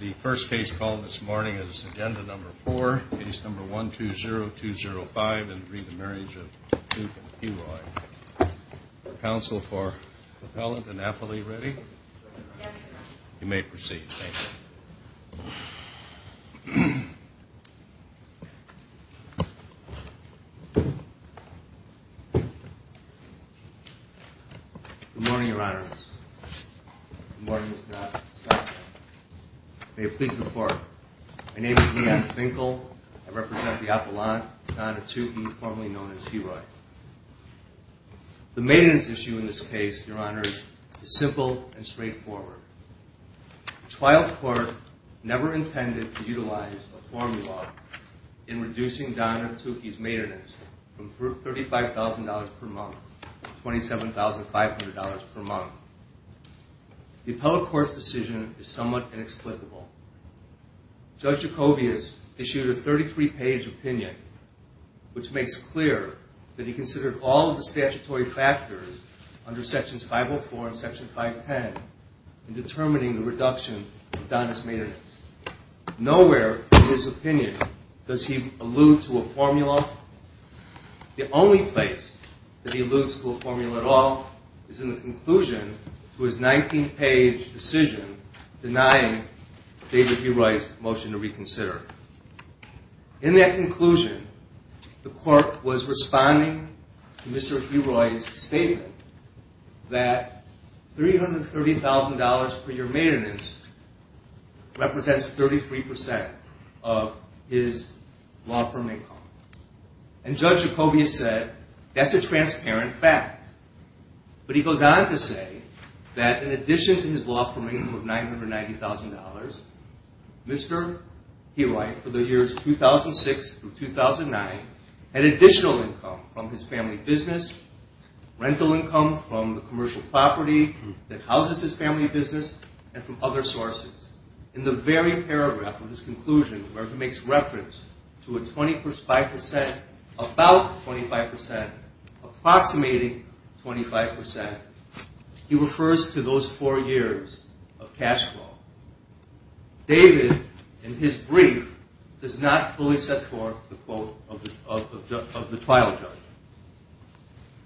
The first case called this morning is Agenda Number 4, Case Number 120205 and Re the Marriage of Tuke and P. Roy. Counsel for Propellant and Affily ready? Yes, sir. You may proceed, thank you. Good morning, Your Honors. May it please the Court. My name is Leanne Finkel. I represent the Appellant, Donna Tuke, formerly known as He-Roy. The maintenance issue in this case, Your Honors, is simple and straightforward. The trial court never intended to utilize a formula in reducing Donna Tuke's maintenance from $35,000 per month to $27,500 per month. The appellate court's decision is somewhat inexplicable. Judge Jacobius issued a 33-page opinion which makes clear that he considered all of the statutory factors under Sections 504 and Section 510 in determining the reduction of Donna's maintenance. Nowhere in his opinion does he allude to a formula. The only place that he alludes to a formula at all is in the conclusion to his 19-page decision denying David He-Roy's motion to reconsider. In that conclusion, the court was responding to Mr. He-Roy's statement that $330,000 per year maintenance represents 33% of his law firm income. And Judge Jacobius said, that's a transparent fact. But he goes on to say that in addition to his law firm income of $990,000, Mr. He-Roy, for the years 2006 through 2009, had additional income from his family business, rental income from the commercial property that houses his family business, and from other sources. In the very paragraph of his conclusion where he makes reference to a 25%, about 25%, approximating 25%, he refers to those four years of cash flow. David, in his brief, does not fully set forth the quote of the trial judge.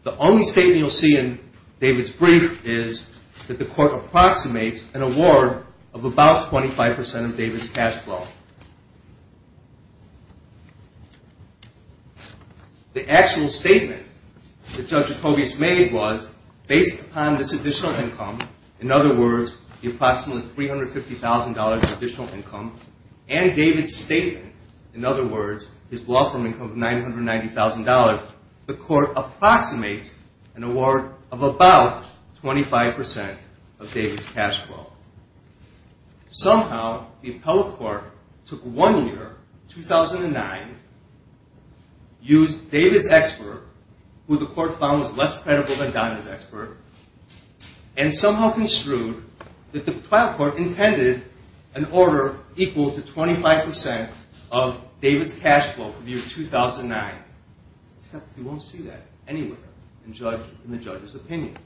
The only statement you'll see in David's brief is that the court approximates an award of about 25% of David's cash flow. The actual statement that Judge Jacobius made was, based upon this additional income, in other words, the approximately $350,000 additional income, and David's statement, in other words, his law firm income of $990,000, the court approximates an award of about 25% of David's cash flow. Somehow, the appellate court took one year, 2009, used David's expert, who the court found was less credible than Donna's expert, and somehow construed that the trial court intended an order equal to 25% of David's cash flow for the year 2009, except you won't see that anywhere in the judge's opinion.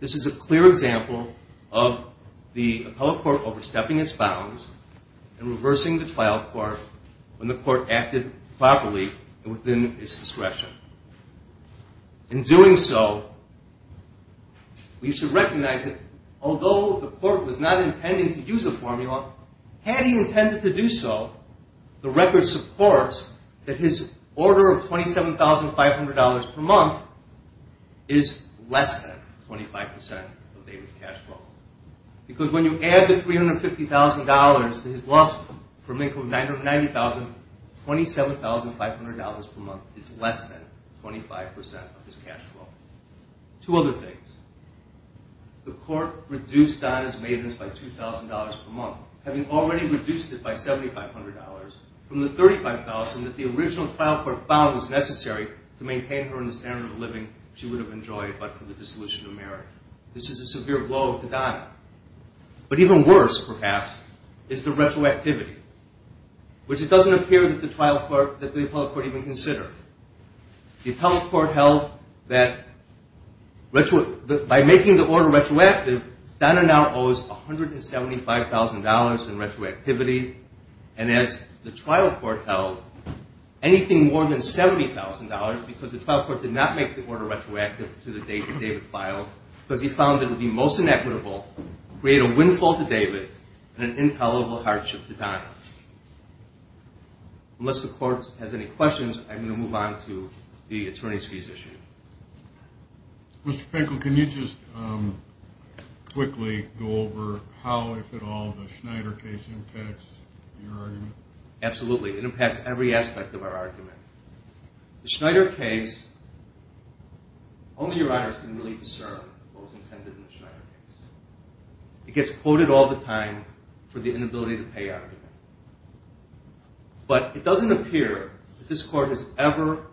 This is a clear example of the appellate court overstepping its bounds and reversing the trial court when the court acted properly and within its discretion. In doing so, we should recognize that although the court was not intending to use a formula, had he intended to do so, the record supports that his order of $27,500 per month is less than 25% of David's cash flow. Because when you add the $350,000 to his law firm income of $990,000, $27,500 per month is less than 25% of his cash flow. Two other things. The court reduced Donna's maintenance by $2,000 per month, having already reduced it by $7,500 from the $35,000 that the But even worse, perhaps, is the retroactivity, which it doesn't appear that the appellate court even considered. The appellate court held that by making the order retroactive, Donna now owes $175,000 in retroactivity, and as the trial court held, anything more than $70,000 because the trial court did not make the order retroactive to the date that David filed because he found it to be most inequitable to create a windfall to David and an intolerable hardship to Donna. Unless the court has any questions, I'm going to move on to the attorney's fees issue. Mr. Finkle, can you just quickly go over how, if at all, the Schneider case impacts your argument? The Schneider case, only your honors can really discern what was intended in the Schneider case. It gets quoted all the time for the inability to pay argument. But it doesn't appear that this court has ever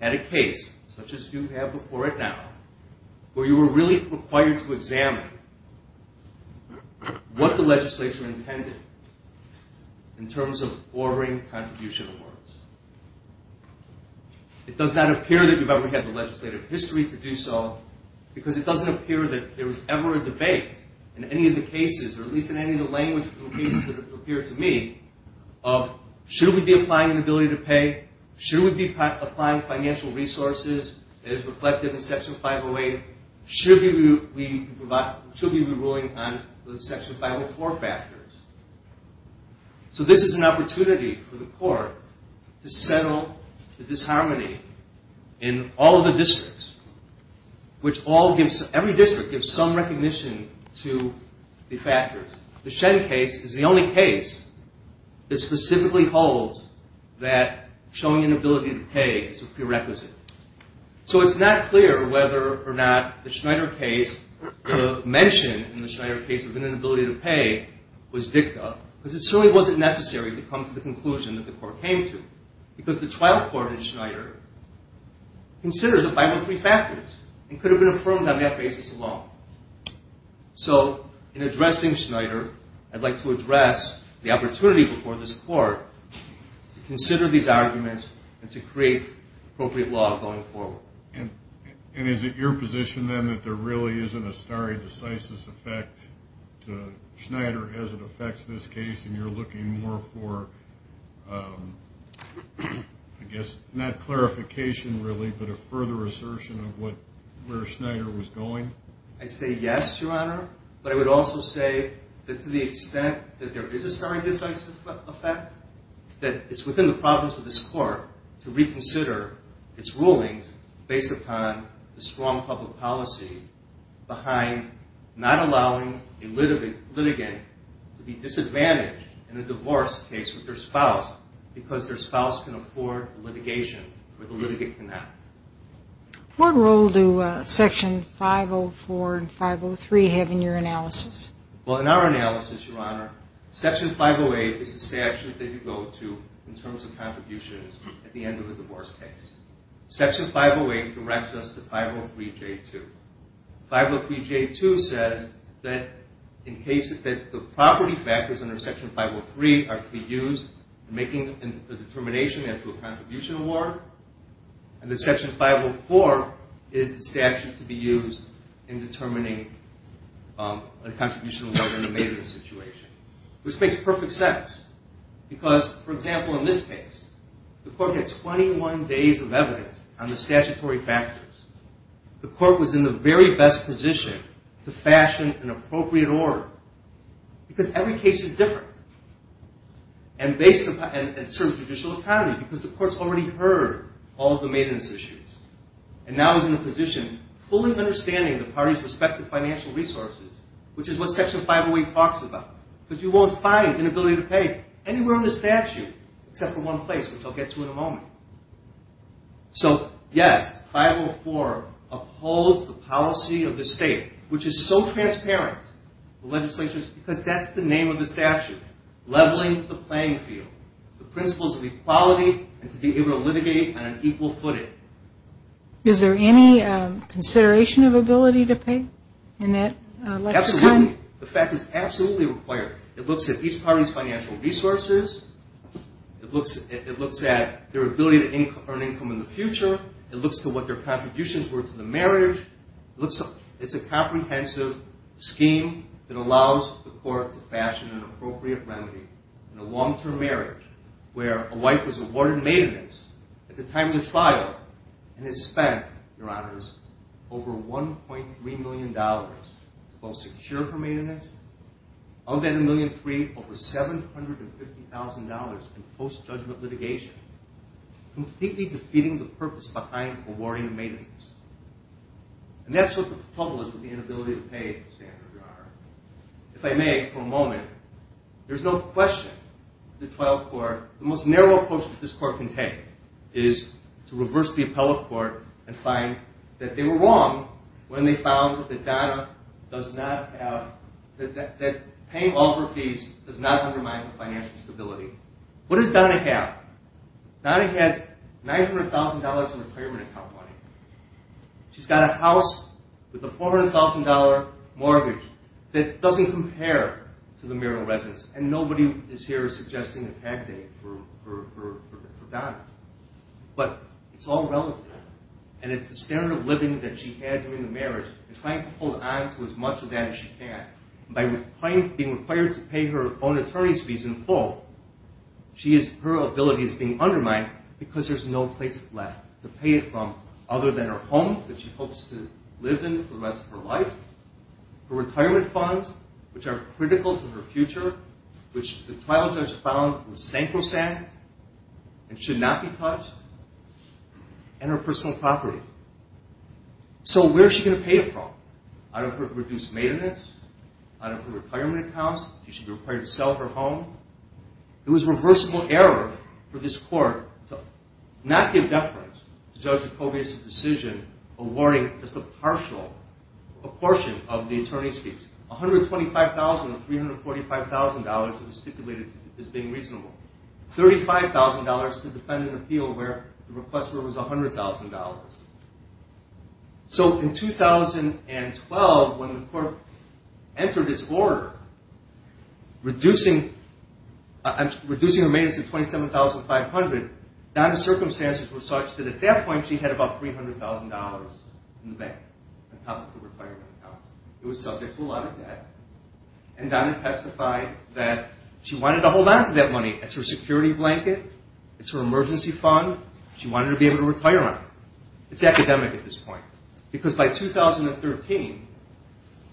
had a case, such as you have before it now, where you were really required to examine what the legislature intended in terms of ordering contribution awards. It does not appear that you've ever had the legislative history to do so because it doesn't appear that there was ever a debate in any of the cases, or at least in any of the language cases that have appeared to me, of should we be applying inability to So this is an opportunity for the court to settle the disharmony in all of the districts, which every district gives some recognition to the factors. The Shen case is the only case that specifically holds that showing inability to pay is a prerequisite. So it's not clear whether or not the Schneider case, the mention in the Schneider case of inability to pay was dicta, because it certainly wasn't necessary to come to the conclusion that the court came to. Because the trial court in Schneider considers the 513 factors and could have been affirmed on that basis alone. So in addressing Schneider, I'd like to address the opportunity before this court to consider these arguments and to create appropriate law going forward. And is it your position then that there really isn't a stare decisis effect to Schneider as it affects this case, and you're looking more for, I guess, not clarification really, but a further assertion of where Schneider was going? I say yes, Your Honor, but I would also say that to the extent that there is a stare decisis effect, that it's within the problems of this court to reconsider its rulings based upon the strong public policy behind not allowing a litigant to be disadvantaged in a divorce case with their spouse because their spouse can afford litigation, but the litigant cannot. What role do Section 504 and 503 have in your analysis? Well, in our analysis, Your Honor, Section 508 is the statute that you go to in terms of contributions at the end of a divorce case. Section 508 directs us to 503J2. 503J2 says that the property factors under Section 503 are to be used in making a determination as to a contribution award, and that Section 504 is the statute to be used in determining a contribution award in a maiden situation, which makes perfect sense. Because, for example, in this case, the court had 21 days of evidence on the statutory factors. The court was in the very best position to fashion an appropriate order because every case is different, and it serves judicial economy because the court's already heard all of the maidens' issues and now is in a position fully understanding the parties' respective financial resources, which is what Section 508 talks about. But you won't find inability to pay anywhere in the statute except for one place, which I'll get to in a moment. So, yes, 504 upholds the policy of the state, which is so transparent with legislatures because that's the name of the statute, leveling the playing field, the principles of equality and to be able to litigate on an equal footing. Is there any consideration of ability to pay in that lexicon? Absolutely. The fact is absolutely required. It looks at each party's financial resources. It looks at their ability to earn income in the future. It looks at what their contributions were to the marriage. It's a comprehensive scheme that allows the court to fashion an appropriate remedy in a long-term marriage where a wife was awarded maidenhoods at the time of the trial and has spent, Your Honors, over $1.3 million to both secure her marriage and pay for it. Of that $1.3 million, over $750,000 in post-judgment litigation, completely defeating the purpose behind awarding maidenhoods. And that's what the trouble is with the inability to pay standard, Your Honor. If I may, for a moment, there's no question the trial court, the most narrow approach that this court can take is to reverse the appellate court and find that they were wrong when they found that paying all of her fees does not undermine her financial stability. What does Donna have? Donna has $900,000 in retirement account money. She's got a house with a $400,000 mortgage that doesn't compare to the marital residence. And nobody is here suggesting a tag date for Donna. But it's all relative. And it's the standard of living that she had during the marriage and trying to hold on to as much of that as she can. By being required to pay her own attorney's fees in full, her ability is being undermined because there's no place left to pay it from other than her home that she hopes to live in for the rest of her life. Her retirement funds, which are critical to her future, which the trial judge found was sacrosanct and should not be touched, and her personal property. So where is she going to pay it from? Out of her reduced maintenance? Out of her retirement accounts? She should be required to sell her home? It was reversible error for this court to not give deference to Judge Jacobius' decision awarding just a partial proportion of the attorney's fees. $125,000 of $345,000 was stipulated as being reasonable. $35,000 to defend an appeal where the request for it was $100,000. So in 2012, when the court entered its order reducing her maintenance to $27,500, Donna's circumstances were such that at that point she had about $300,000 in the bank on top of her retirement accounts. It was subject to a lot of debt. And Donna testified that she wanted to hold on to that money. It's her security blanket. It's her emergency fund. She wanted to be able to retire on it. It's academic at this point. Because by 2013,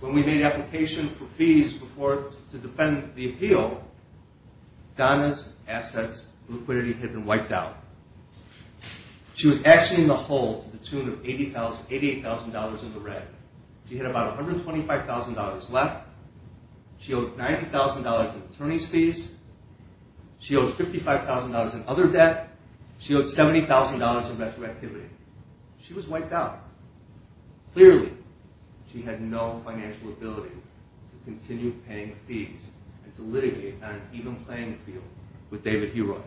when we made application for fees to defend the appeal, Donna's assets, liquidity had been wiped out. She was actioning the whole to the tune of $88,000 in the red. She had about $125,000 left. She owed $90,000 in attorney's fees. She owed $55,000 in other debt. She owed $70,000 in retroactivity. She was wiped out. Clearly, she had no financial ability to continue paying fees and to litigate on an even playing field with David Heroy,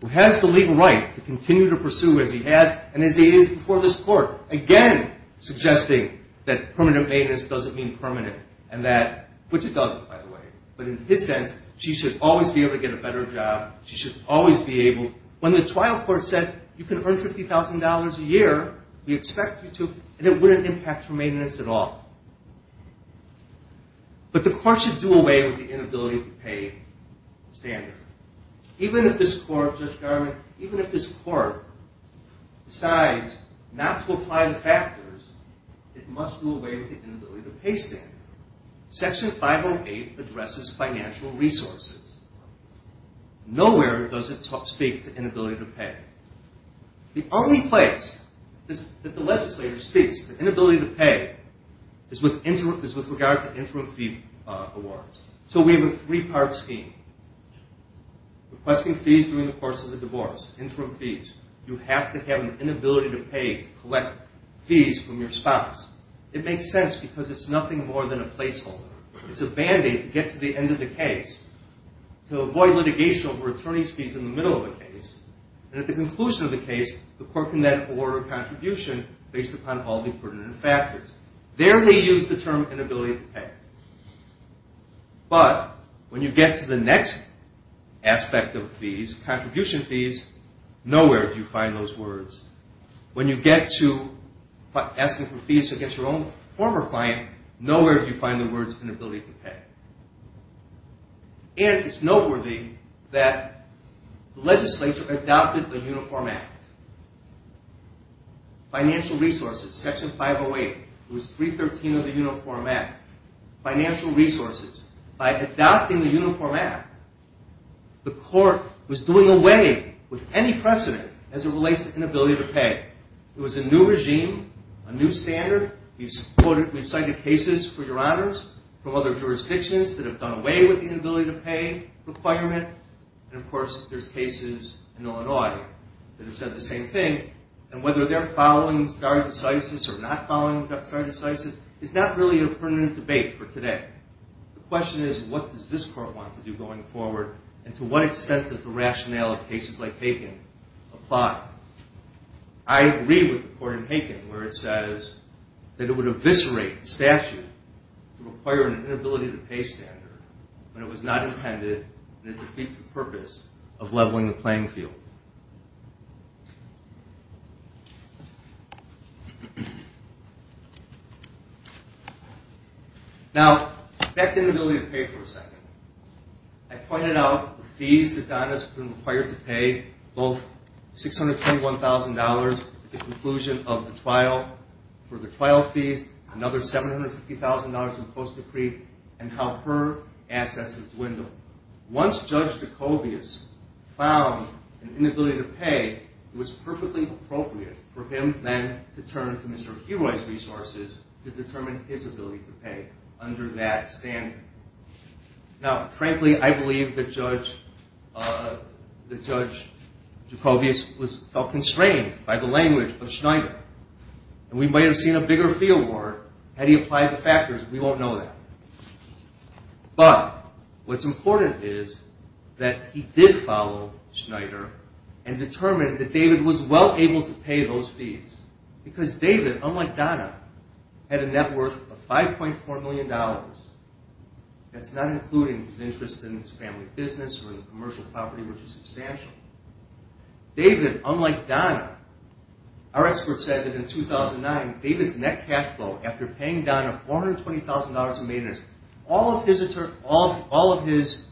who has the legal right to continue to pursue as he has and as he is before this court, again suggesting that permanent maintenance doesn't mean permanent, which it doesn't, by the way. But in his sense, she should always be able to get a better job. When the trial court said, you can earn $50,000 a year, we expect you to, and it wouldn't impact her maintenance at all. But the court should do away with the inability to pay standard. Even if this court decides not to apply the factors, it must do away with the inability to pay standard. Section 508 addresses financial resources. Nowhere does it speak to inability to pay. The only place that the legislature speaks to inability to pay is with regard to interim fee awards. So we have a three-part scheme. Requesting fees during the course of the divorce, interim fees. You have to have an inability to pay to collect fees from your spouse. It makes sense because it's nothing more than a placeholder. It's a Band-Aid to get to the end of the case, to avoid litigation over attorney's fees in the middle of a case, and at the conclusion of the case, the court can then order a contribution based upon all the pertinent factors. There they use the term inability to pay. But when you get to the next aspect of fees, contribution fees, nowhere do you find those words. When you get to asking for fees against your own former client, nowhere do you find the words inability to pay. And it's noteworthy that the legislature adopted the Uniform Act. Financial resources, Section 508. It was 313 of the Uniform Act. Financial resources. By adopting the Uniform Act, the court was doing away with any precedent as it relates to inability to pay. It was a new regime, a new standard. We've cited cases, for your honors, from other jurisdictions that have done away with the inability to pay requirement. And of course, there's cases in Illinois that have said the same thing. And whether they're following stare decisis or not following stare decisis is not really a pertinent debate for today. The question is, what does this court want to do going forward, and to what extent does the rationale of cases like Haken apply? I agree with the court in Haken where it says that it would eviscerate the statute to require an inability to pay standard when it was not intended and it defeats the purpose of leveling the playing field. Now, back to inability to pay for a second. I pointed out the fees that Donna's been required to pay, both $621,000 at the conclusion of the trial, for the trial fees, another $750,000 in post-decree, and how her assets have dwindled. Once Judge Jacobius found an inability to pay, it was perfectly appropriate for him then to turn to Mr. Heroy's resources to determine his ability to pay under that standard. Now, frankly, I believe that Judge Jacobius felt constrained by the language of Schneider, and we might have seen a bigger fee award had he applied the factors. We won't know that. But what's important is that he did follow Schneider and determined that David was well able to pay those fees, because David, unlike Donna, had a net worth of $5.4 million. That's not including his interest in his family business or in commercial property, which is substantial. David, unlike Donna, our experts said that in 2009, David's net cash flow, after paying Donna $420,000 in maintenance, all of his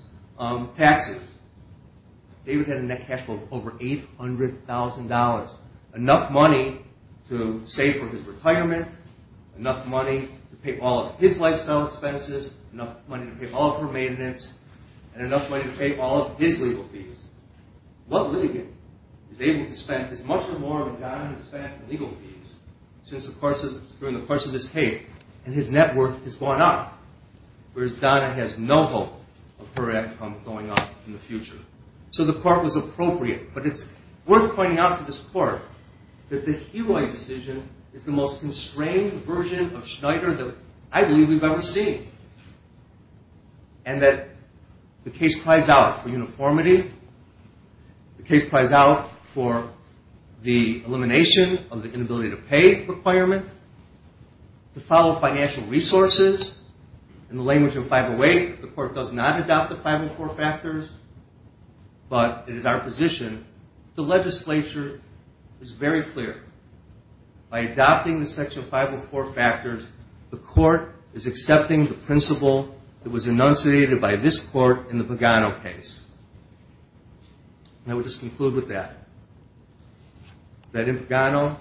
taxes, David had a net cash flow of over $800,000. Enough money to save for his retirement, enough money to pay all of his lifestyle expenses, enough money to pay all of her maintenance, and enough money to pay all of his legal fees. What litigant is able to spend as much or more than Donna has spent in legal fees during the course of this case, and his net worth has gone up, whereas Donna has no hope of her income going up in the future. So the court was appropriate, but it's worth pointing out to this court that the Hewitt decision is the most constrained version of Schneider that I believe we've ever seen. And that the case cries out for uniformity, the case cries out for the elimination of the inability to pay requirement, to follow financial resources. In the language of 508, the court does not adopt the 504 factors, but it is our position that the legislature is very clear. By adopting the section 504 factors, the court is accepting the principle that was enunciated by this court in the Pagano case. And I will just conclude with that. That in Pagano,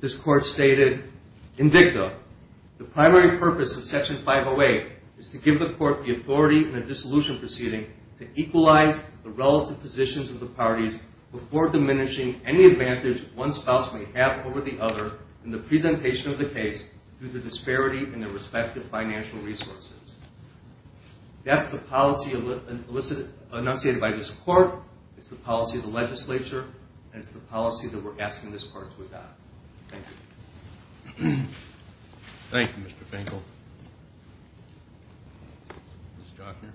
this court stated, in dicta, the primary purpose of section 508 is to give the court the authority in a dissolution proceeding to equalize the relative positions of the parties before diminishing any advantage one spouse may have over the other in the presentation of the case due to disparity in their respective financial resources. That's the policy enunciated by this court, it's the policy of the legislature, and it's the policy that we're asking this court to adopt. Thank you. Thank you, Mr. Finkel. Ms. Jochner.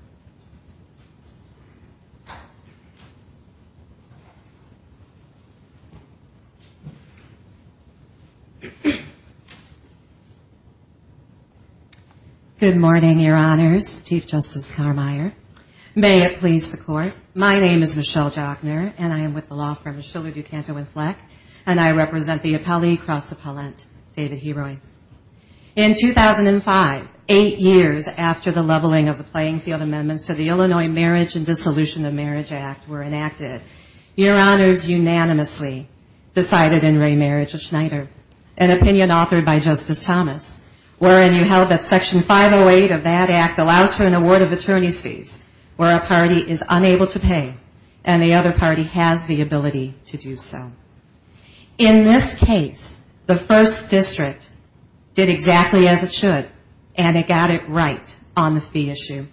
Good morning, your honors. Chief Justice Carmeier. May it please the court, my name is Michelle Jochner, and I am with the law firm Schiller, DuCanto, and Fleck, and I represent the appellee cross-appellant, David Heroy. In 2005, eight years after the leveling of the playing field amendments to the Illinois Marriage and Dissolution of Marriage Act were enacted, your honors unanimously decided in re-marriage of Schneider, an opinion authored by Justice Thomas, wherein you held that section 508 of that act allows for an award of attorney's fees where a party is unable to pay and the other party has the ability to do so. In this case, the first district did exactly as it should, and it got it right on the fee issue.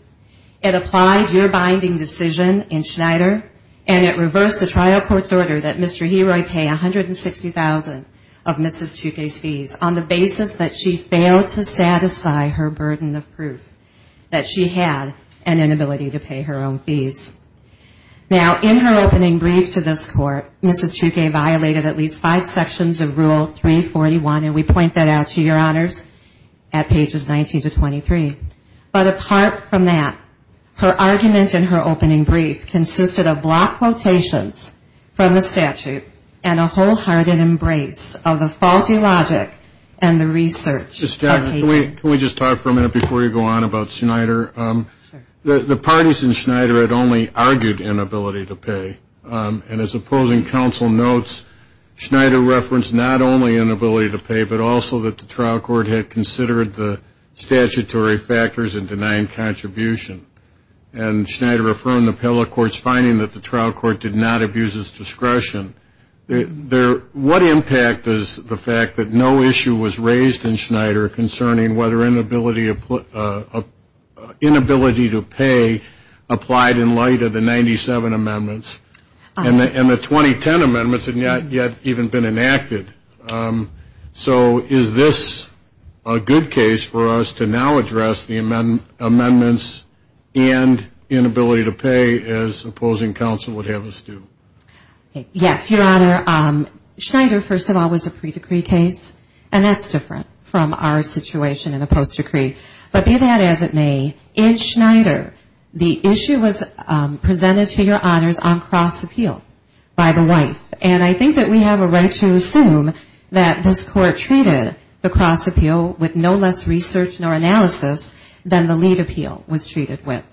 It applied your binding decision in Schneider, and it reversed the trial court's order that Mr. Heroy pay 160,000 of Mrs. Tukey's fees on the basis that she failed to satisfy her burden of proof that she had an inability to pay her own fees. Now, in her opening brief to this court, Mrs. Tukey violated at least five sections of Rule 341, and we point that out to your honors at pages 19 to 23. But apart from that, her argument in her opening brief consisted of block quotations from the statute and a wholehearted embrace of the faulty logic and the research. Can we just talk for a minute before you go on about Schneider? The parties in Schneider had only argued inability to pay, and as opposing counsel notes, Schneider referenced not only inability to pay, but also that the trial court had considered the statutory factors in denying contribution. And Schneider affirmed the appellate court's finding that the trial court did not abuse its discretion. What impact does the fact that no issue was raised in Schneider concerning whether inability to pay applied in light of the 97 amendments and the 2010 amendments had not yet even been enacted? So is this a good case for us to now address the amendments and inability to pay as opposing counsel would have us do? Yes, Your Honor. Schneider, first of all, was a pre-decree case, and that's different from our situation in a post-decree. But be that as it may, in Schneider, the issue was presented to your honors on cross-appeal by the wife. And I think that we have a right to assume that this court treated the cross-appeal with no less research nor analysis than the lead appeal was treated with.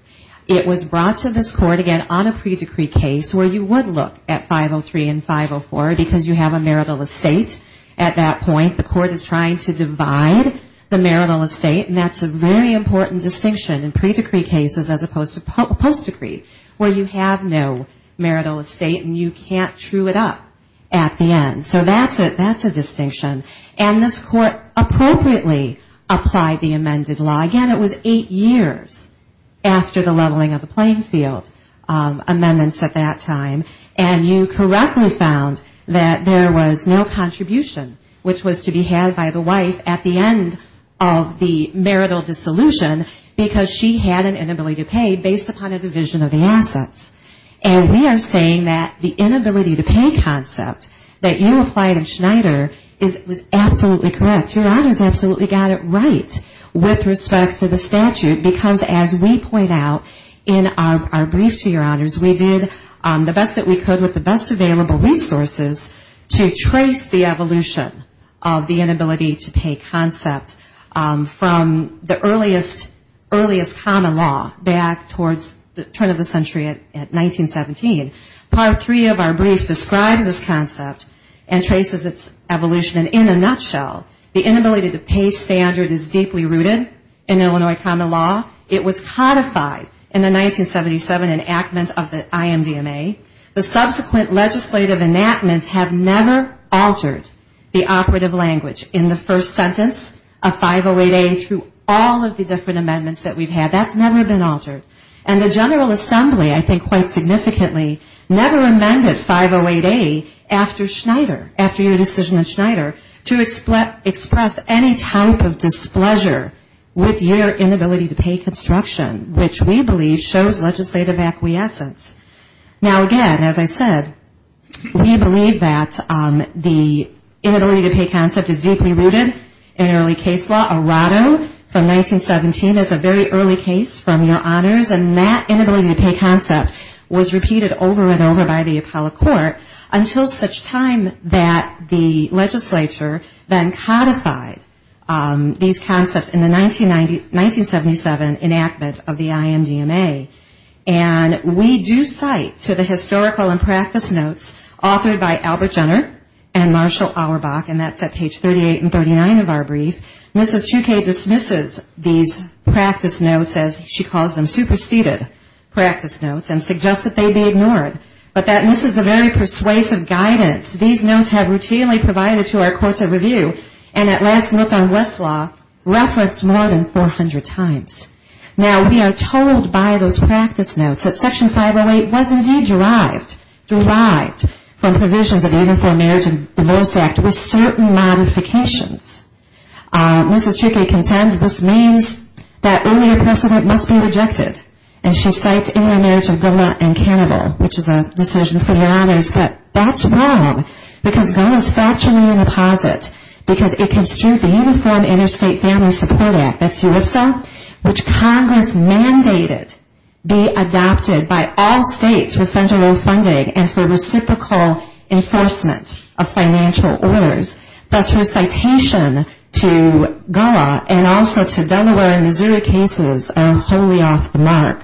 It was brought to this court, again, on a pre-decree case where you would look at 503 and 504 because you have a marital estate at that point. The court is trying to divide the marital estate, and that's a very important distinction in pre-decree cases as opposed to post-decree where you have no marital estate and you can't true it up. At the end. So that's a distinction. And this court appropriately applied the amended law. Again, it was eight years after the leveling of the playing field amendments at that time. And you correctly found that there was no contribution which was to be had by the wife at the end of the marital dissolution because she had an inability to pay based upon a division of the assets. And we are saying that the inability to pay concept that you applied in Schneider was absolutely correct. Your honors absolutely got it right with respect to the statute because as we point out in our brief to your honors, we did the best that we could with the best available resources to trace the evolution of the inability to pay concept from the earliest common law back towards the turn of the century and into the present. 1917. Part three of our brief describes this concept and traces its evolution. And in a nutshell, the inability to pay standard is deeply rooted in Illinois common law. It was codified in the 1977 enactment of the IMDMA. The subsequent legislative enactments have never altered the operative language in the first sentence of 508A through all of the different amendments that we've had. That's never been altered. And the General Assembly, I think quite significantly, never amended 508A after Schneider, after your decision at Schneider to express any type of displeasure with your inability to pay construction, which we believe shows legislative acquiescence. Now, again, as I said, we believe that the inability to pay concept is deeply rooted in early case law. Errato from 1917 is a very early case from your honors. And that inability to pay concept was repeated over and over by the Apollo court until such time that the legislature then codified these concepts in the 1977 enactment of the IMDMA. And we do cite to the historical and practice notes authored by Albert Jenner and Marshall Auerbach, and that's at page 38 and 39 of our brief, Mrs. Chouquet dismisses these practice notes as she calls them superseded practice notes and suggests that they be ignored. But that this is a very persuasive guidance. These notes have routinely provided to our courts of review and at last look on Westlaw referenced more than 400 times. Now, we are told by those practice notes that Section 508 was indeed derived, derived from provisions of the Uniform Marriage and Divorce Act with certain modifications. Mrs. Chouquet contends this means that earlier precedent must be rejected. And she cites Uniform Marriage of Goma and Cannibal, which is a decision from your honors, but that's wrong because Goma is factually in a posit because it construed the Uniform Interstate Family Support Act. That's your IFSA? Which Congress mandated be adopted by all states for federal funding and for reciprocal enforcement of financial orders. That's her citation to Goma and also to Delaware and Missouri cases are wholly off the mark.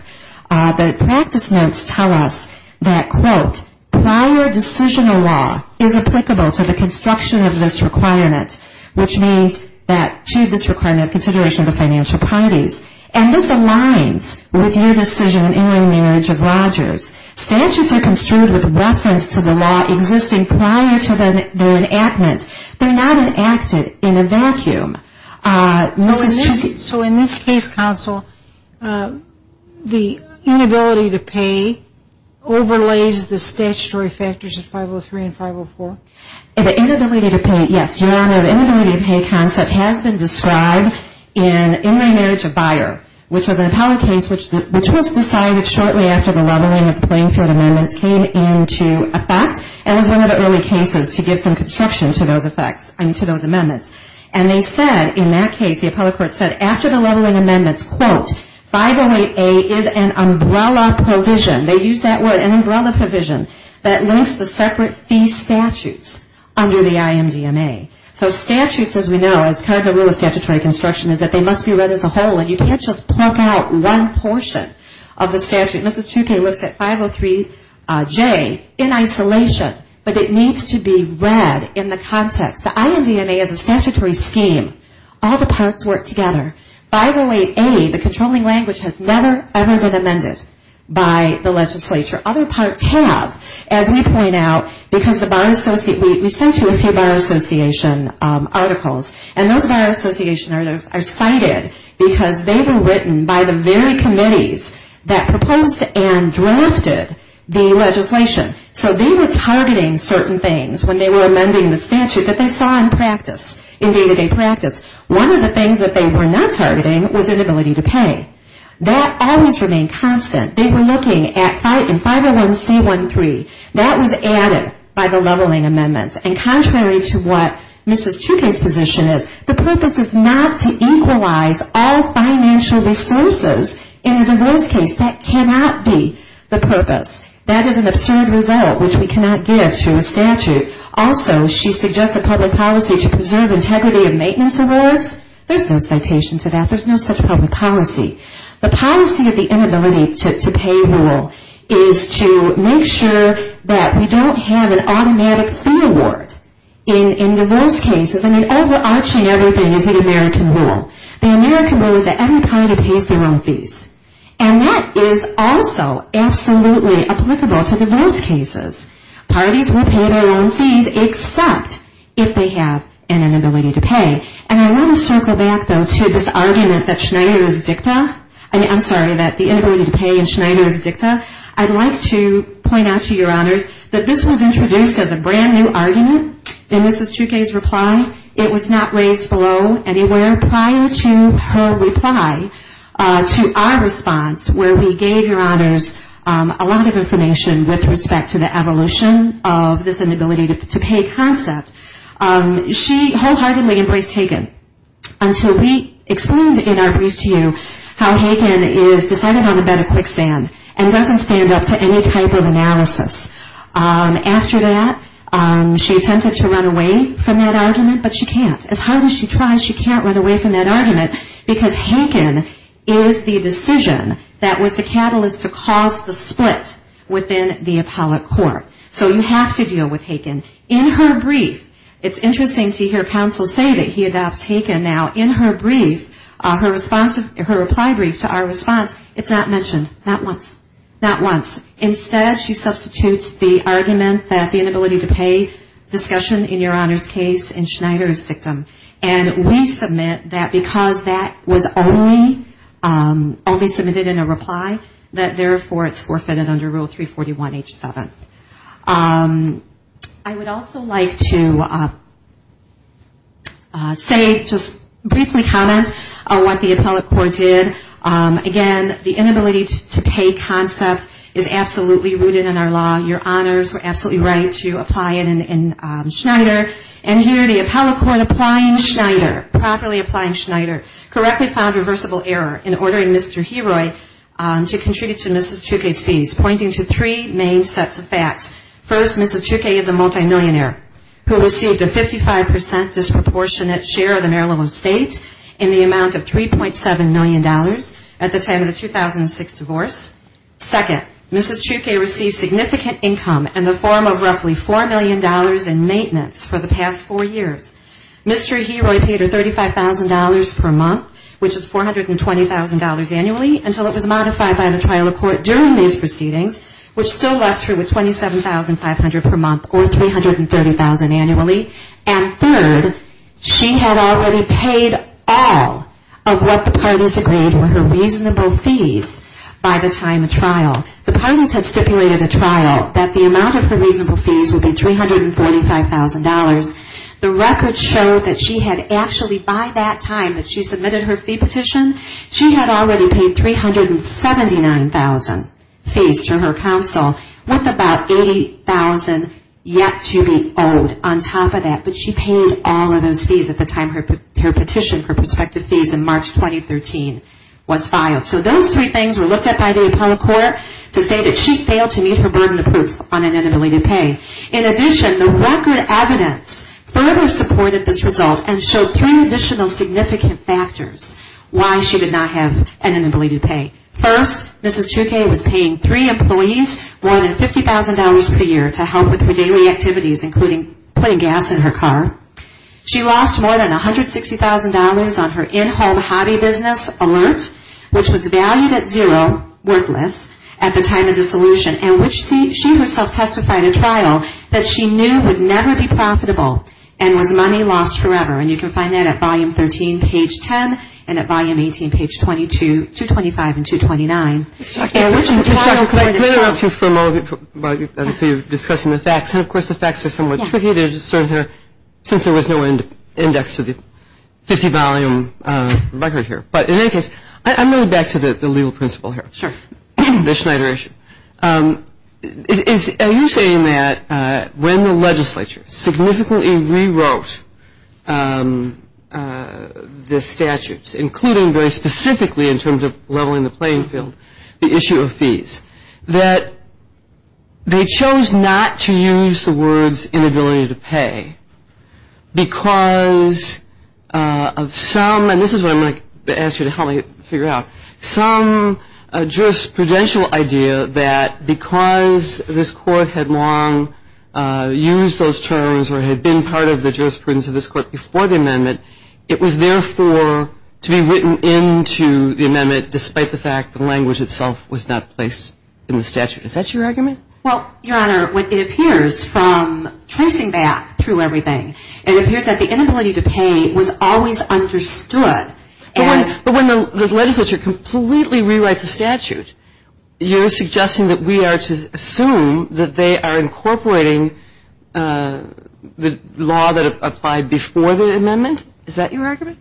The practice notes tell us that, quote, prior decisional law is applicable to the construction of this requirement, which means that to this requirement of consideration of the financial parties. And this aligns with your decision in Uniform Marriage of Rogers. Statutes are construed with reference to the law existing prior to their enactment. They're not enacted in a vacuum. So in this case, counsel, the inability to pay overlays the statutory factors of 503 and 504? The inability to pay, yes, your honor, the inability to pay concept has been described in Inland Marriage of Byer, which was an appellate case which was decided shortly after the leveling of the playing field amendments came into effect and was one of the early cases to give some construction to those amendments. And they said, in that case, the appellate court said after the leveling amendments, quote, 508A is an umbrella provision. They used that word, an umbrella provision that links the separate fee statutes under the IMDMA. So statutes, as we know, as kind of the rule of statutory construction is that they must be read as a whole and you can't just plunk out one portion of the statute. Mrs. Trouquet looks at 503J in isolation, but it needs to be read in the context. The IMDMA is a statutory scheme. All the parts work together. 508A, the controlling language, has never, ever been amended by the legislature. Other parts have, as we point out, because the Byers Association, we sent you a few Byers Association articles, and those Byers Association articles are cited because they were written by the very committees that proposed them. They proposed and drafted the legislation. So they were targeting certain things when they were amending the statute that they saw in practice, in day-to-day practice. One of the things that they were not targeting was inability to pay. That always remained constant. They were looking at 501C13. That was added by the leveling amendments. And contrary to what Mrs. Trouquet's position is, the purpose is not to equalize all financial resources in a divorce case. That cannot be the purpose. That is an absurd result, which we cannot give to a statute. Also, she suggests a public policy to preserve integrity of maintenance awards. There's no citation to that. There's no such public policy. The policy of the inability to pay rule is to make sure that we don't have an automatic fee award in divorce cases. I mean, overarching everything is the American rule. The American rule is that every party pays their own fees. And that is also absolutely applicable to divorce cases. Parties will pay their own fees, except if they have an inability to pay. And I want to circle back, though, to this argument that Schneider is dicta. I'm sorry, that the inability to pay in Schneider is dicta. I'd like to point out to your honors that this was introduced as a brand new argument in Mrs. Trouquet's reply. It was not raised below anywhere prior to her reply to our response where we gave your honors a lot of information with respect to the evolution of this inability to pay concept. She wholeheartedly embraced Hagan until we explained in our brief to you how Hagan is decided on the bed of quicksand and doesn't stand up to any type of analysis. After that, she attempted to run away from that argument, but she can't. As hard as she tries, she can't run away from that argument because Hagan is the decision that was the catalyst to cause the split within the appellate court. So you have to deal with Hagan. In her brief, it's interesting to hear counsel say that he adopts Hagan. Now, in her reply brief to our response, it's not mentioned. Not once. Not once. Instead, she substitutes the argument that the inability to pay discussion in your honors case in Schneider is dictum. And we submit that because that was only submitted in a reply, that therefore it's forfeited under Rule 341H7. I would also like to say, just briefly comment on what the appellate court did. Again, the inability to pay concept is absolutely rooted in our law. Your honors were absolutely right to apply it in Schneider. And here the appellate court, applying Schneider, properly applying Schneider, correctly found reversible error in ordering Mr. Heroy to contribute to Mrs. Trucke's fees, pointing to three main sets of facts. First, Mrs. Trucke is a multimillionaire who received a 55% disproportionate share of the Maryland state in the amount of $3.7 million at the time of the 2006 divorce. Second, Mrs. Trucke received significant income in the form of roughly $4 million in maintenance for the past four years. Mr. Heroy paid her $35,000 per month, which is $420,000 annually, until it was modified by the trial of court during these proceedings, which still left her with $25,000 per month. And third, she had already paid all of what the parties agreed were her reasonable fees by the time of trial. The parties had stipulated at trial that the amount of her reasonable fees would be $345,000. The records show that she had actually, by that time that she submitted her fee petition, she had already paid $379,000 fees to her counsel, with about $1.5 million in maintenance. She had $80,000 yet to be owed on top of that, but she paid all of those fees at the time her petition for prospective fees in March 2013 was filed. So those three things were looked at by the appellate court to say that she failed to meet her burden of proof on inanibility to pay. In addition, the record evidence further supported this result and showed three additional significant factors why she did not have inanibility to pay. First, Mrs. Chouquet was paying three employees more than $50,000 per year to help with her daily activities, including putting gas in her car. She lost more than $160,000 on her in-home hobby business alert, which was valued at zero, worthless, at the time of dissolution, and which she herself testified at trial that she knew would never be profitable and was money lost forever. And you can find that at volume 13, page 10, and at volume 18, page 225 and 229. Ms. Chouquet, let me interrupt you for a moment. Obviously, you're discussing the facts, and of course, the facts are somewhat tricky to discern here since there was no index to the 50-volume record here. But in any case, I'm going back to the legal principle here, the Schneider issue. Are you saying that when the legislature significantly rewrote the statutes, including very specifically in terms of leveling the playing field, the issue of fees, that they chose not to use the words inability to pay because of some, and this is what I'm going to ask you to help me figure out, some jurisprudential idea that because this Court had long used those terms or had been part of the jurisprudence of this Court before the amendment, it was therefore to be written into the amendment despite the fact the language itself was not placed in the statute? Is that your argument? Well, Your Honor, it appears from tracing back through everything, it appears that the inability to pay was always understood. But when the legislature completely rewrites the statute, you're suggesting that we are to assume that they are incorporating the law that applied before the amendment? Is that your argument?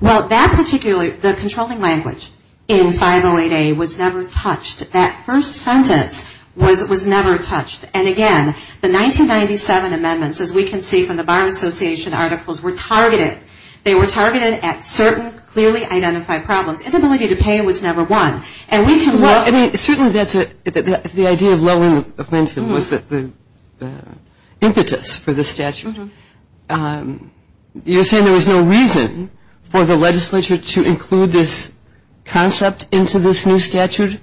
Well, that particular, the controlling language in 508A was never touched. That first sentence was never touched. And again, the 1997 amendments, as we can see from the Bar Association articles, were targeted. They were targeted at certain clearly identified problems. Inability to pay was never one. Well, I mean, certainly that's a, the idea of lowering the plaintiff was the impetus for the statute. You're saying there was no reason for the legislature to include this concept into this new statute?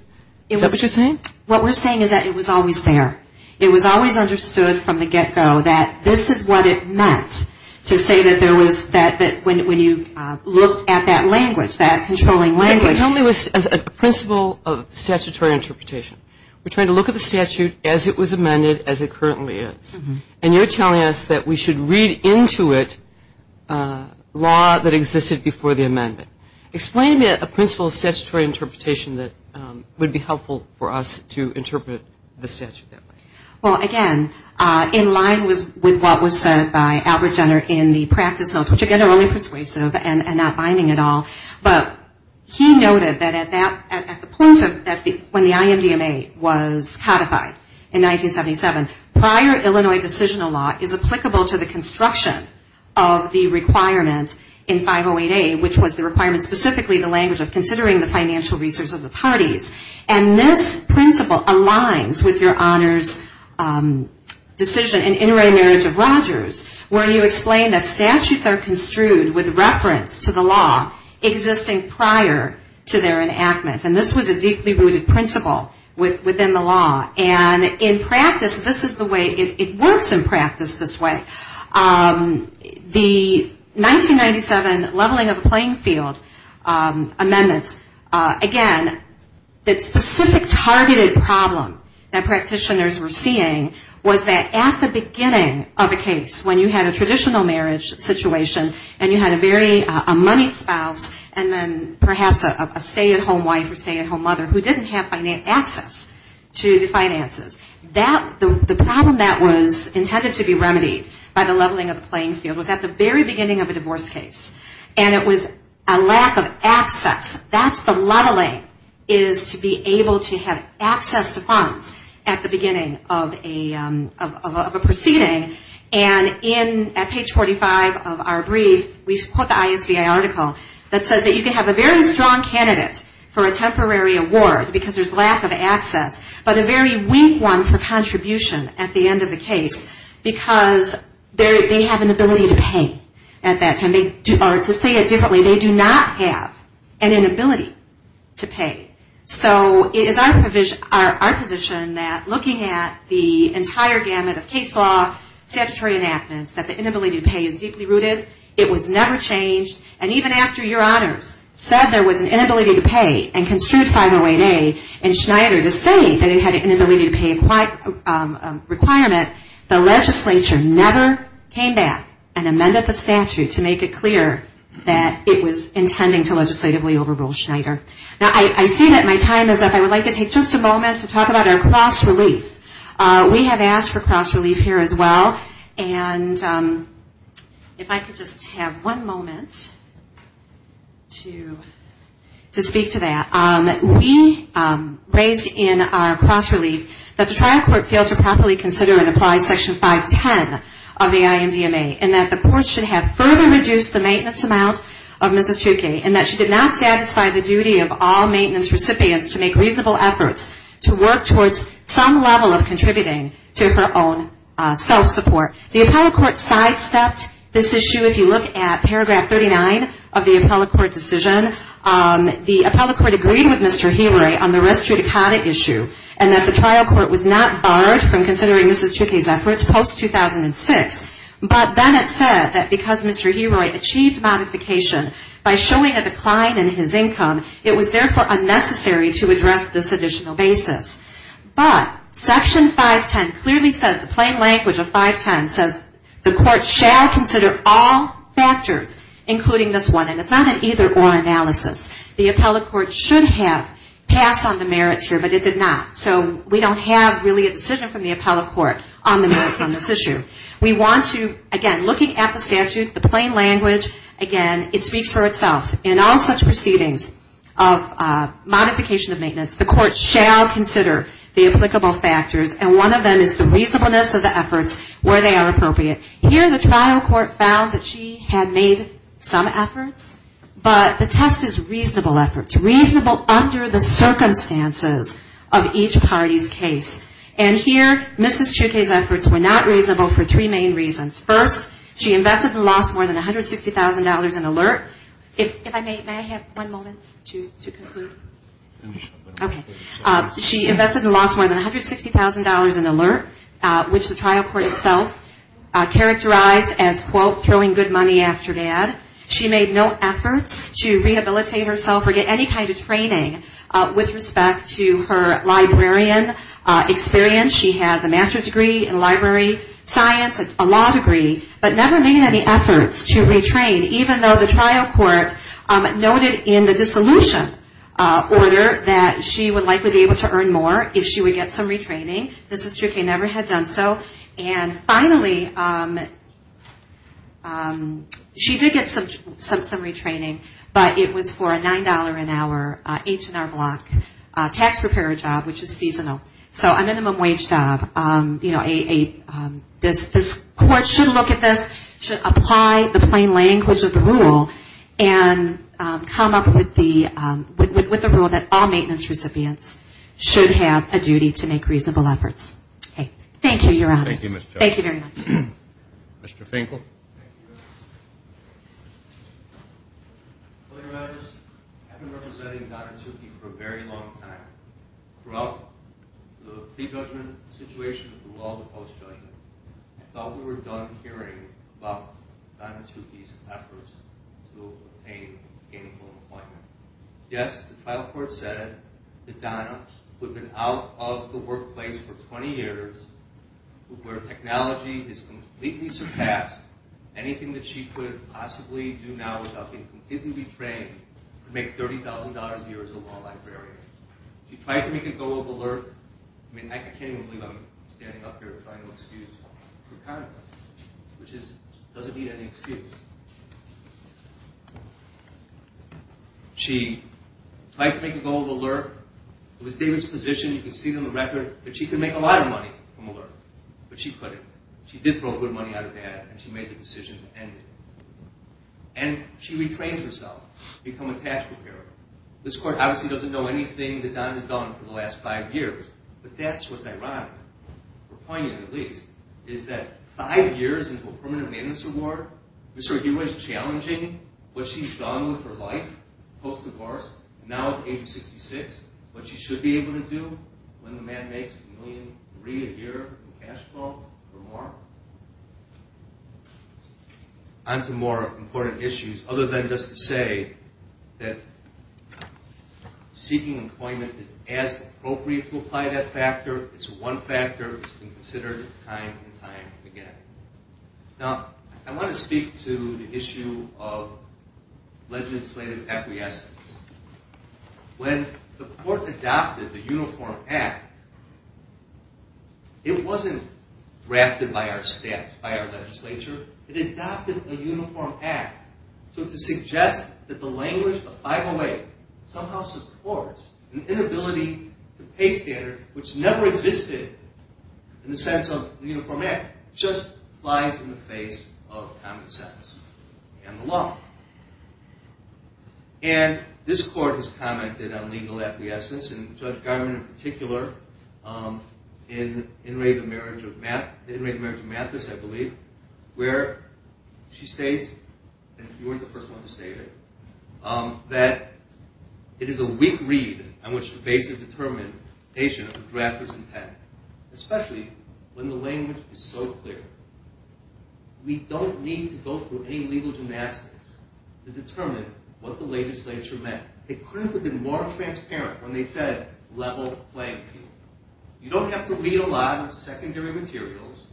Is that what you're saying? What we're saying is that it was always there. It was always understood from the get-go that this is what it meant to say that there was, that when you look at that language, that controlling language. Tell me, as a principle of statutory interpretation, we're trying to look at the statute as it was amended, as it currently is. And you're telling us that we should read into it law that existed before the amendment. Explain to me a principle of statutory interpretation that would be helpful for us to interpret the statute that way. Well, again, in line with what was said by Albert Jenner in the practice notes, which again are only persuasive and not binding at all, but he noted that at that, at the point of, when the IMDMA was codified in 1977, prior Illinois decisional law is applicable to the construction of the requirement in 508A, which was the requirement, specifically the language of considering the financial resource of the parties. And this principle aligns with your honors decision in Inter-Array Marriage of Rogers, where you explain that statutes are construed with reference to the law existing prior to their enactment. And this was a deeply rooted principle within the law. And in practice, this is the way, it works in practice this way. The 1997 leveling of the playing field amendments, again, the specific targeted problem that practitioners were seeing was that at the beginning of a case, when you had a traditional marriage situation, and you had a very, a moneyed spouse, and then perhaps a stay-at-home wife or something like that, it was a very specific targeted problem. Who didn't have access to the finances. That, the problem that was intended to be remedied by the leveling of the playing field was at the very beginning of a divorce case. And it was a lack of access. That's the leveling, is to be able to have access to funds at the beginning of a proceeding. And in, at page 45 of our brief, we put the ISBI article that says that you can have a very strong candidate for a temporary award because there's lack of access, but a very weak one for contribution at the end of the case because they have an ability to pay at that time. And to say it differently, they do not have an inability to pay. So it is our position that looking at the entire gamut of case law, statutory enactments, that the inability to pay is deeply rooted. It was never changed. And even after your honors said there was an inability to pay and construed 508A in Schneider to say that it had an inability to pay requirement, the legislature never came back and amended the statute to make it clear that it had an inability to pay. Now I see that my time is up. I would like to take just a moment to talk about our cross-relief. We have asked for cross-relief here as well. And if I could just have one moment to speak to that. We raised in our cross-relief that the trial court failed to properly consider and apply Section 510 of the IMDMA and that the court should have further reduced the amount of cross-relief that was intended to be paid. And that she did not satisfy the duty of all maintenance recipients to make reasonable efforts to work towards some level of contributing to her own self-support. The appellate court sidestepped this issue. If you look at paragraph 39 of the appellate court decision, the appellate court agreed with Mr. Heeroy on the res judicata issue and that the trial court was not barred from considering Mrs. Tukey's efforts post-2006. But then it said that because Mr. Heeroy achieved modification by showing a decline in his income, it was therefore unnecessary to address this additional basis. But Section 510 clearly says, the plain language of 510 says, the court shall consider all factors, including this one. And it's not an either-or analysis. The appellate court should have passed on the merits here, but it did not. So we don't have really a decision from the appellate court on the merits on this issue. We want to, again, looking at the statute, the plain language, again, it speaks for itself. In all such proceedings of modification of maintenance, the court shall consider the applicable factors, and one of them is the reasonableness of the efforts where they are appropriate. Here, the trial court found that she had made some efforts, but the test is reasonable efforts. Reasonable under the circumstances of each party's case. And here, Mrs. Tukey's efforts were not reasonable for three main reasons. First, she invested and lost more than $160,000 in alert. If I may, may I have one moment to conclude? Okay. She invested and lost more than $160,000 in alert, which the trial court itself characterized as, quote, throwing good money after bad. She made no efforts to rehabilitate herself or get any kind of training with respect to her librarian experience. She has a master's degree in library science, a law degree, but never made any efforts to retrain, even though the trial court noted in the dissolution order that she would likely be able to earn more if she would get some retraining. Mrs. Tukey never had done so. And finally, she did get some retraining, but it was for a $9 an hour H&R block tax preparer job, which is seasonal. So a minimum wage job, you know, a business this court should look at this, should apply the plain language of the rule and come up with the rule that all maintenance recipients should have a duty to make reasonable efforts. Okay. Thank you, Your Honors. Thank you very much. Mr. Finkel. Thank you, Your Honors. Colleague Rogers, I've been representing Donna Tukey for a very long time. Throughout the pre-judgment situation through all the post-judgment, I thought we were done hearing about Donna Tukey's efforts to obtain gainful employment. Yes, the trial court said that Donna, who had been out of the workplace for 20 years, where technology has completely surpassed anything that she could possibly do now without being completely trained, could make $30,000 a year as a law librarian. She tried to make a go of alert. I mean, I can't even believe I'm standing up here trying to excuse her conduct, which doesn't need any excuse. She tried to make a go of alert. It was David's position. You can see it on the record. But she could make a lot of money from alert. But she couldn't. She did throw good money out of bad, and she made the decision to end it. And she retrained herself, become a tax preparer. This court obviously doesn't know anything that Donna has done for the last five years. But that's what's ironic, or poignant at least, is that five years into a permanent maintenance award, Mr. O'Hara is challenging what she's done with her life post-divorce, now at age 66, what she should be able to do when the man makes $1.3 million a year in cash flow or more. On to more important issues, other than just to say that seeking employment is as appropriate to apply that factor. It's one factor. It's been considered time and time again. Now, I want to speak to the issue of legislative acquiescence. When the court adopted the Uniform Act, it wasn't drafted by our staff, by our legislature. It adopted a Uniform Act. So to suggest that the language of 508 somehow supports an inability to pay standard, which never existed in the sense of the Uniform Act, just flies in the face of common sense and the law. And this court has commented on legal acquiescence, and Judge Garman in particular, in In Re, the Marriage of Mathis, I believe, where she states, and you weren't the first one to state it, that it is a weak read on which the basis of determination of the draft was intended, especially when the language is so clear. We don't need to go through any legal gymnastics to determine what the legislature meant. It couldn't have been more transparent when they said level playing field. You don't have to read a lot of secondary materials.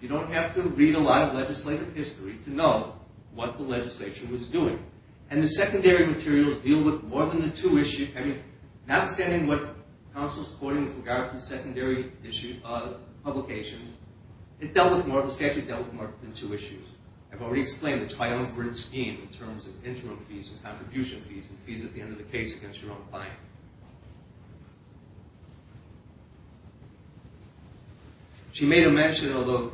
You don't have to read a lot of legislative history to know what the legislature was doing. And the secondary materials deal with more than the two issues. I mean, notwithstanding what counsel is quoting with regard to the secondary publications, it dealt with more than two issues. I've already explained the triumvirate scheme in terms of interim fees and contribution fees and fees at the end of the case against your own client. She made a mention, although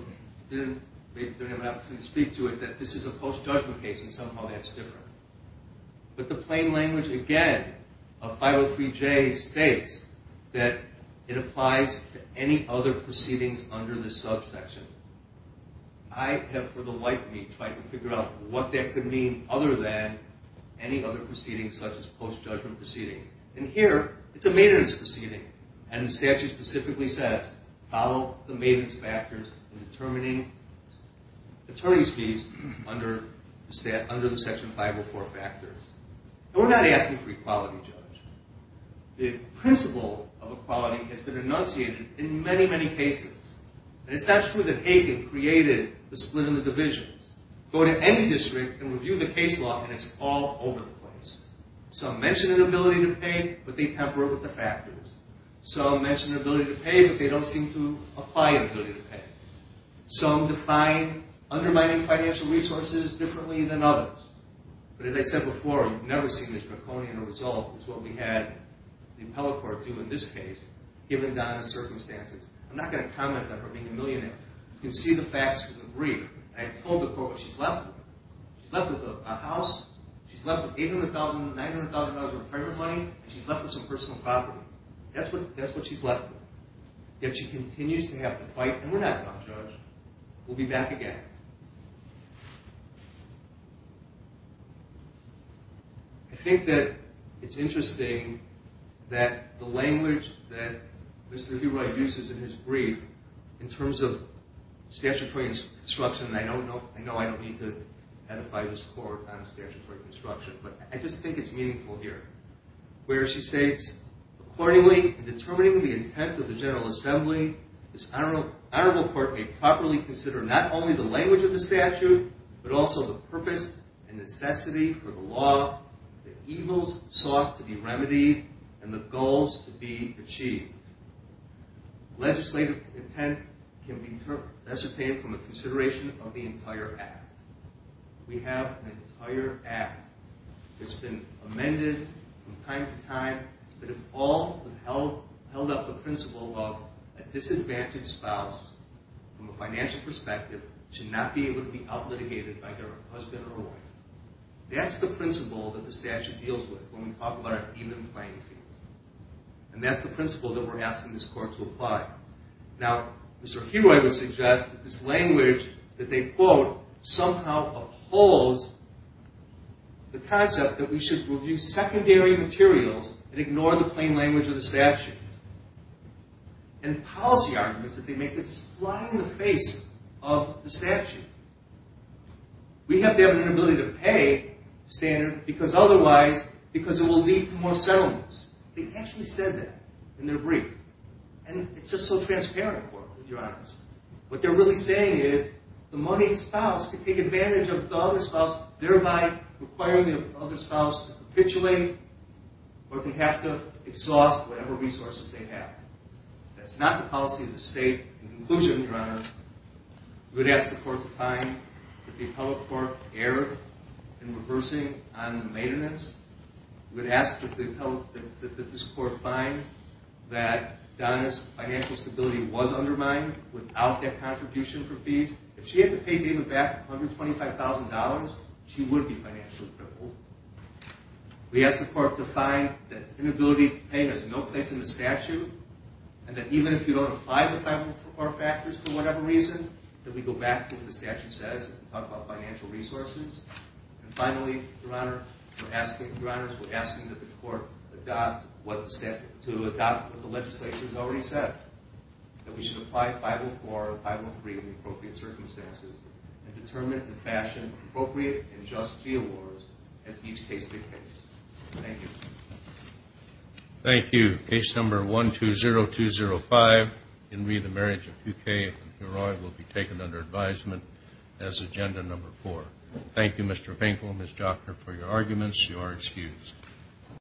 I didn't have an opportunity to speak to it, that this is a post-judgment case and somehow that's different. But the plain language again of 503J states that it applies to any other proceedings under the subsection. I have for the life of me tried to figure out what that could mean other than any other proceedings such as post-judgment proceedings. And here, it's a maintenance proceeding. And the statute specifically says, follow the maintenance factors in determining attorney's fees under the section 504 factors. And we're not asking for equality, Judge. The principle of equality has been enunciated in many, many cases. And it's not true that Hagan created the split in the divisions. Go to any district and review the case law and it's all over the place. Some mention an ability to pay, but they temper it with the factors. Some mention an ability to pay, but they don't seem to apply the ability to pay. Some define undermining financial resources differently than others. But as I said before, I've never seen this draconian result. It's what we had the appellate court do in this case, given Donna's circumstances. I'm not going to comment on her being a millionaire. You can see the facts in the brief. I told the court what she's left with. She's left with a house, she's left with $800,000, $900,000 of retirement money, and she's left with some personal property. That's what she's left with. Yet she continues to have to fight. And we're not done, Judge. We'll be back again. I think that it's interesting that the language that Mr. Hurwoy uses in his brief, in terms of statutory construction, and I know I don't need to edify this court on statutory construction, but I just think it's meaningful here, where she states, Accordingly, in determining the intent of the General Assembly, this Honorable Court may properly consider not only the language of the statute, but also the purpose and necessity for the law, the evils sought to be remedied, and the goals to be achieved. Legislative intent can be recited from a consideration of the entire Act. We have an entire Act that's been amended from time to time that has all held up the principle of a disadvantaged spouse, from a financial perspective, should not be able to be outlitigated by their husband or wife. That's the principle that the statute deals with when we talk about an even playing field. And that's the principle that we're asking this court to apply. Now, Mr. Hurwoy would suggest that this language that they quote somehow upholds the concept that we should review secondary materials and ignore the plain language of the statute. And policy arguments that they make that just fly in the face of the statute. We have to have an inability to pay standard, because otherwise, because it will lead to more settlements. They actually said that in their brief. And it's just so transparent, Your Honor. What they're really saying is the moneyed spouse can take advantage of the other spouse, thereby requiring the other spouse to capitulate or to have to exhaust whatever resources they have. That's not the policy of the state. In conclusion, Your Honor, we would ask the court to find that the appellate court erred in reversing on the maintenance. We would ask that this court find that Donna's financial stability was undermined without that contribution for fees. If she had to pay David back $125,000, she would be financially crippled. We ask the court to find that inability to pay has no place in the statute. And that even if you don't apply the 504 factors for whatever reason, that we go back to what the statute says and talk about financial resources. And finally, Your Honor, we're asking that the court adopt what the legislature has already said. That we should apply 504 and 503 in the appropriate circumstances and determine and fashion appropriate and just fee awards as each case dictates. Thank you. Thank you. Case number 120205, Henry, the marriage of Duque and Heroy, will be taken under advisement as agenda number four. Thank you, Mr. Finkel and Ms. Jochner for your arguments. You are excused.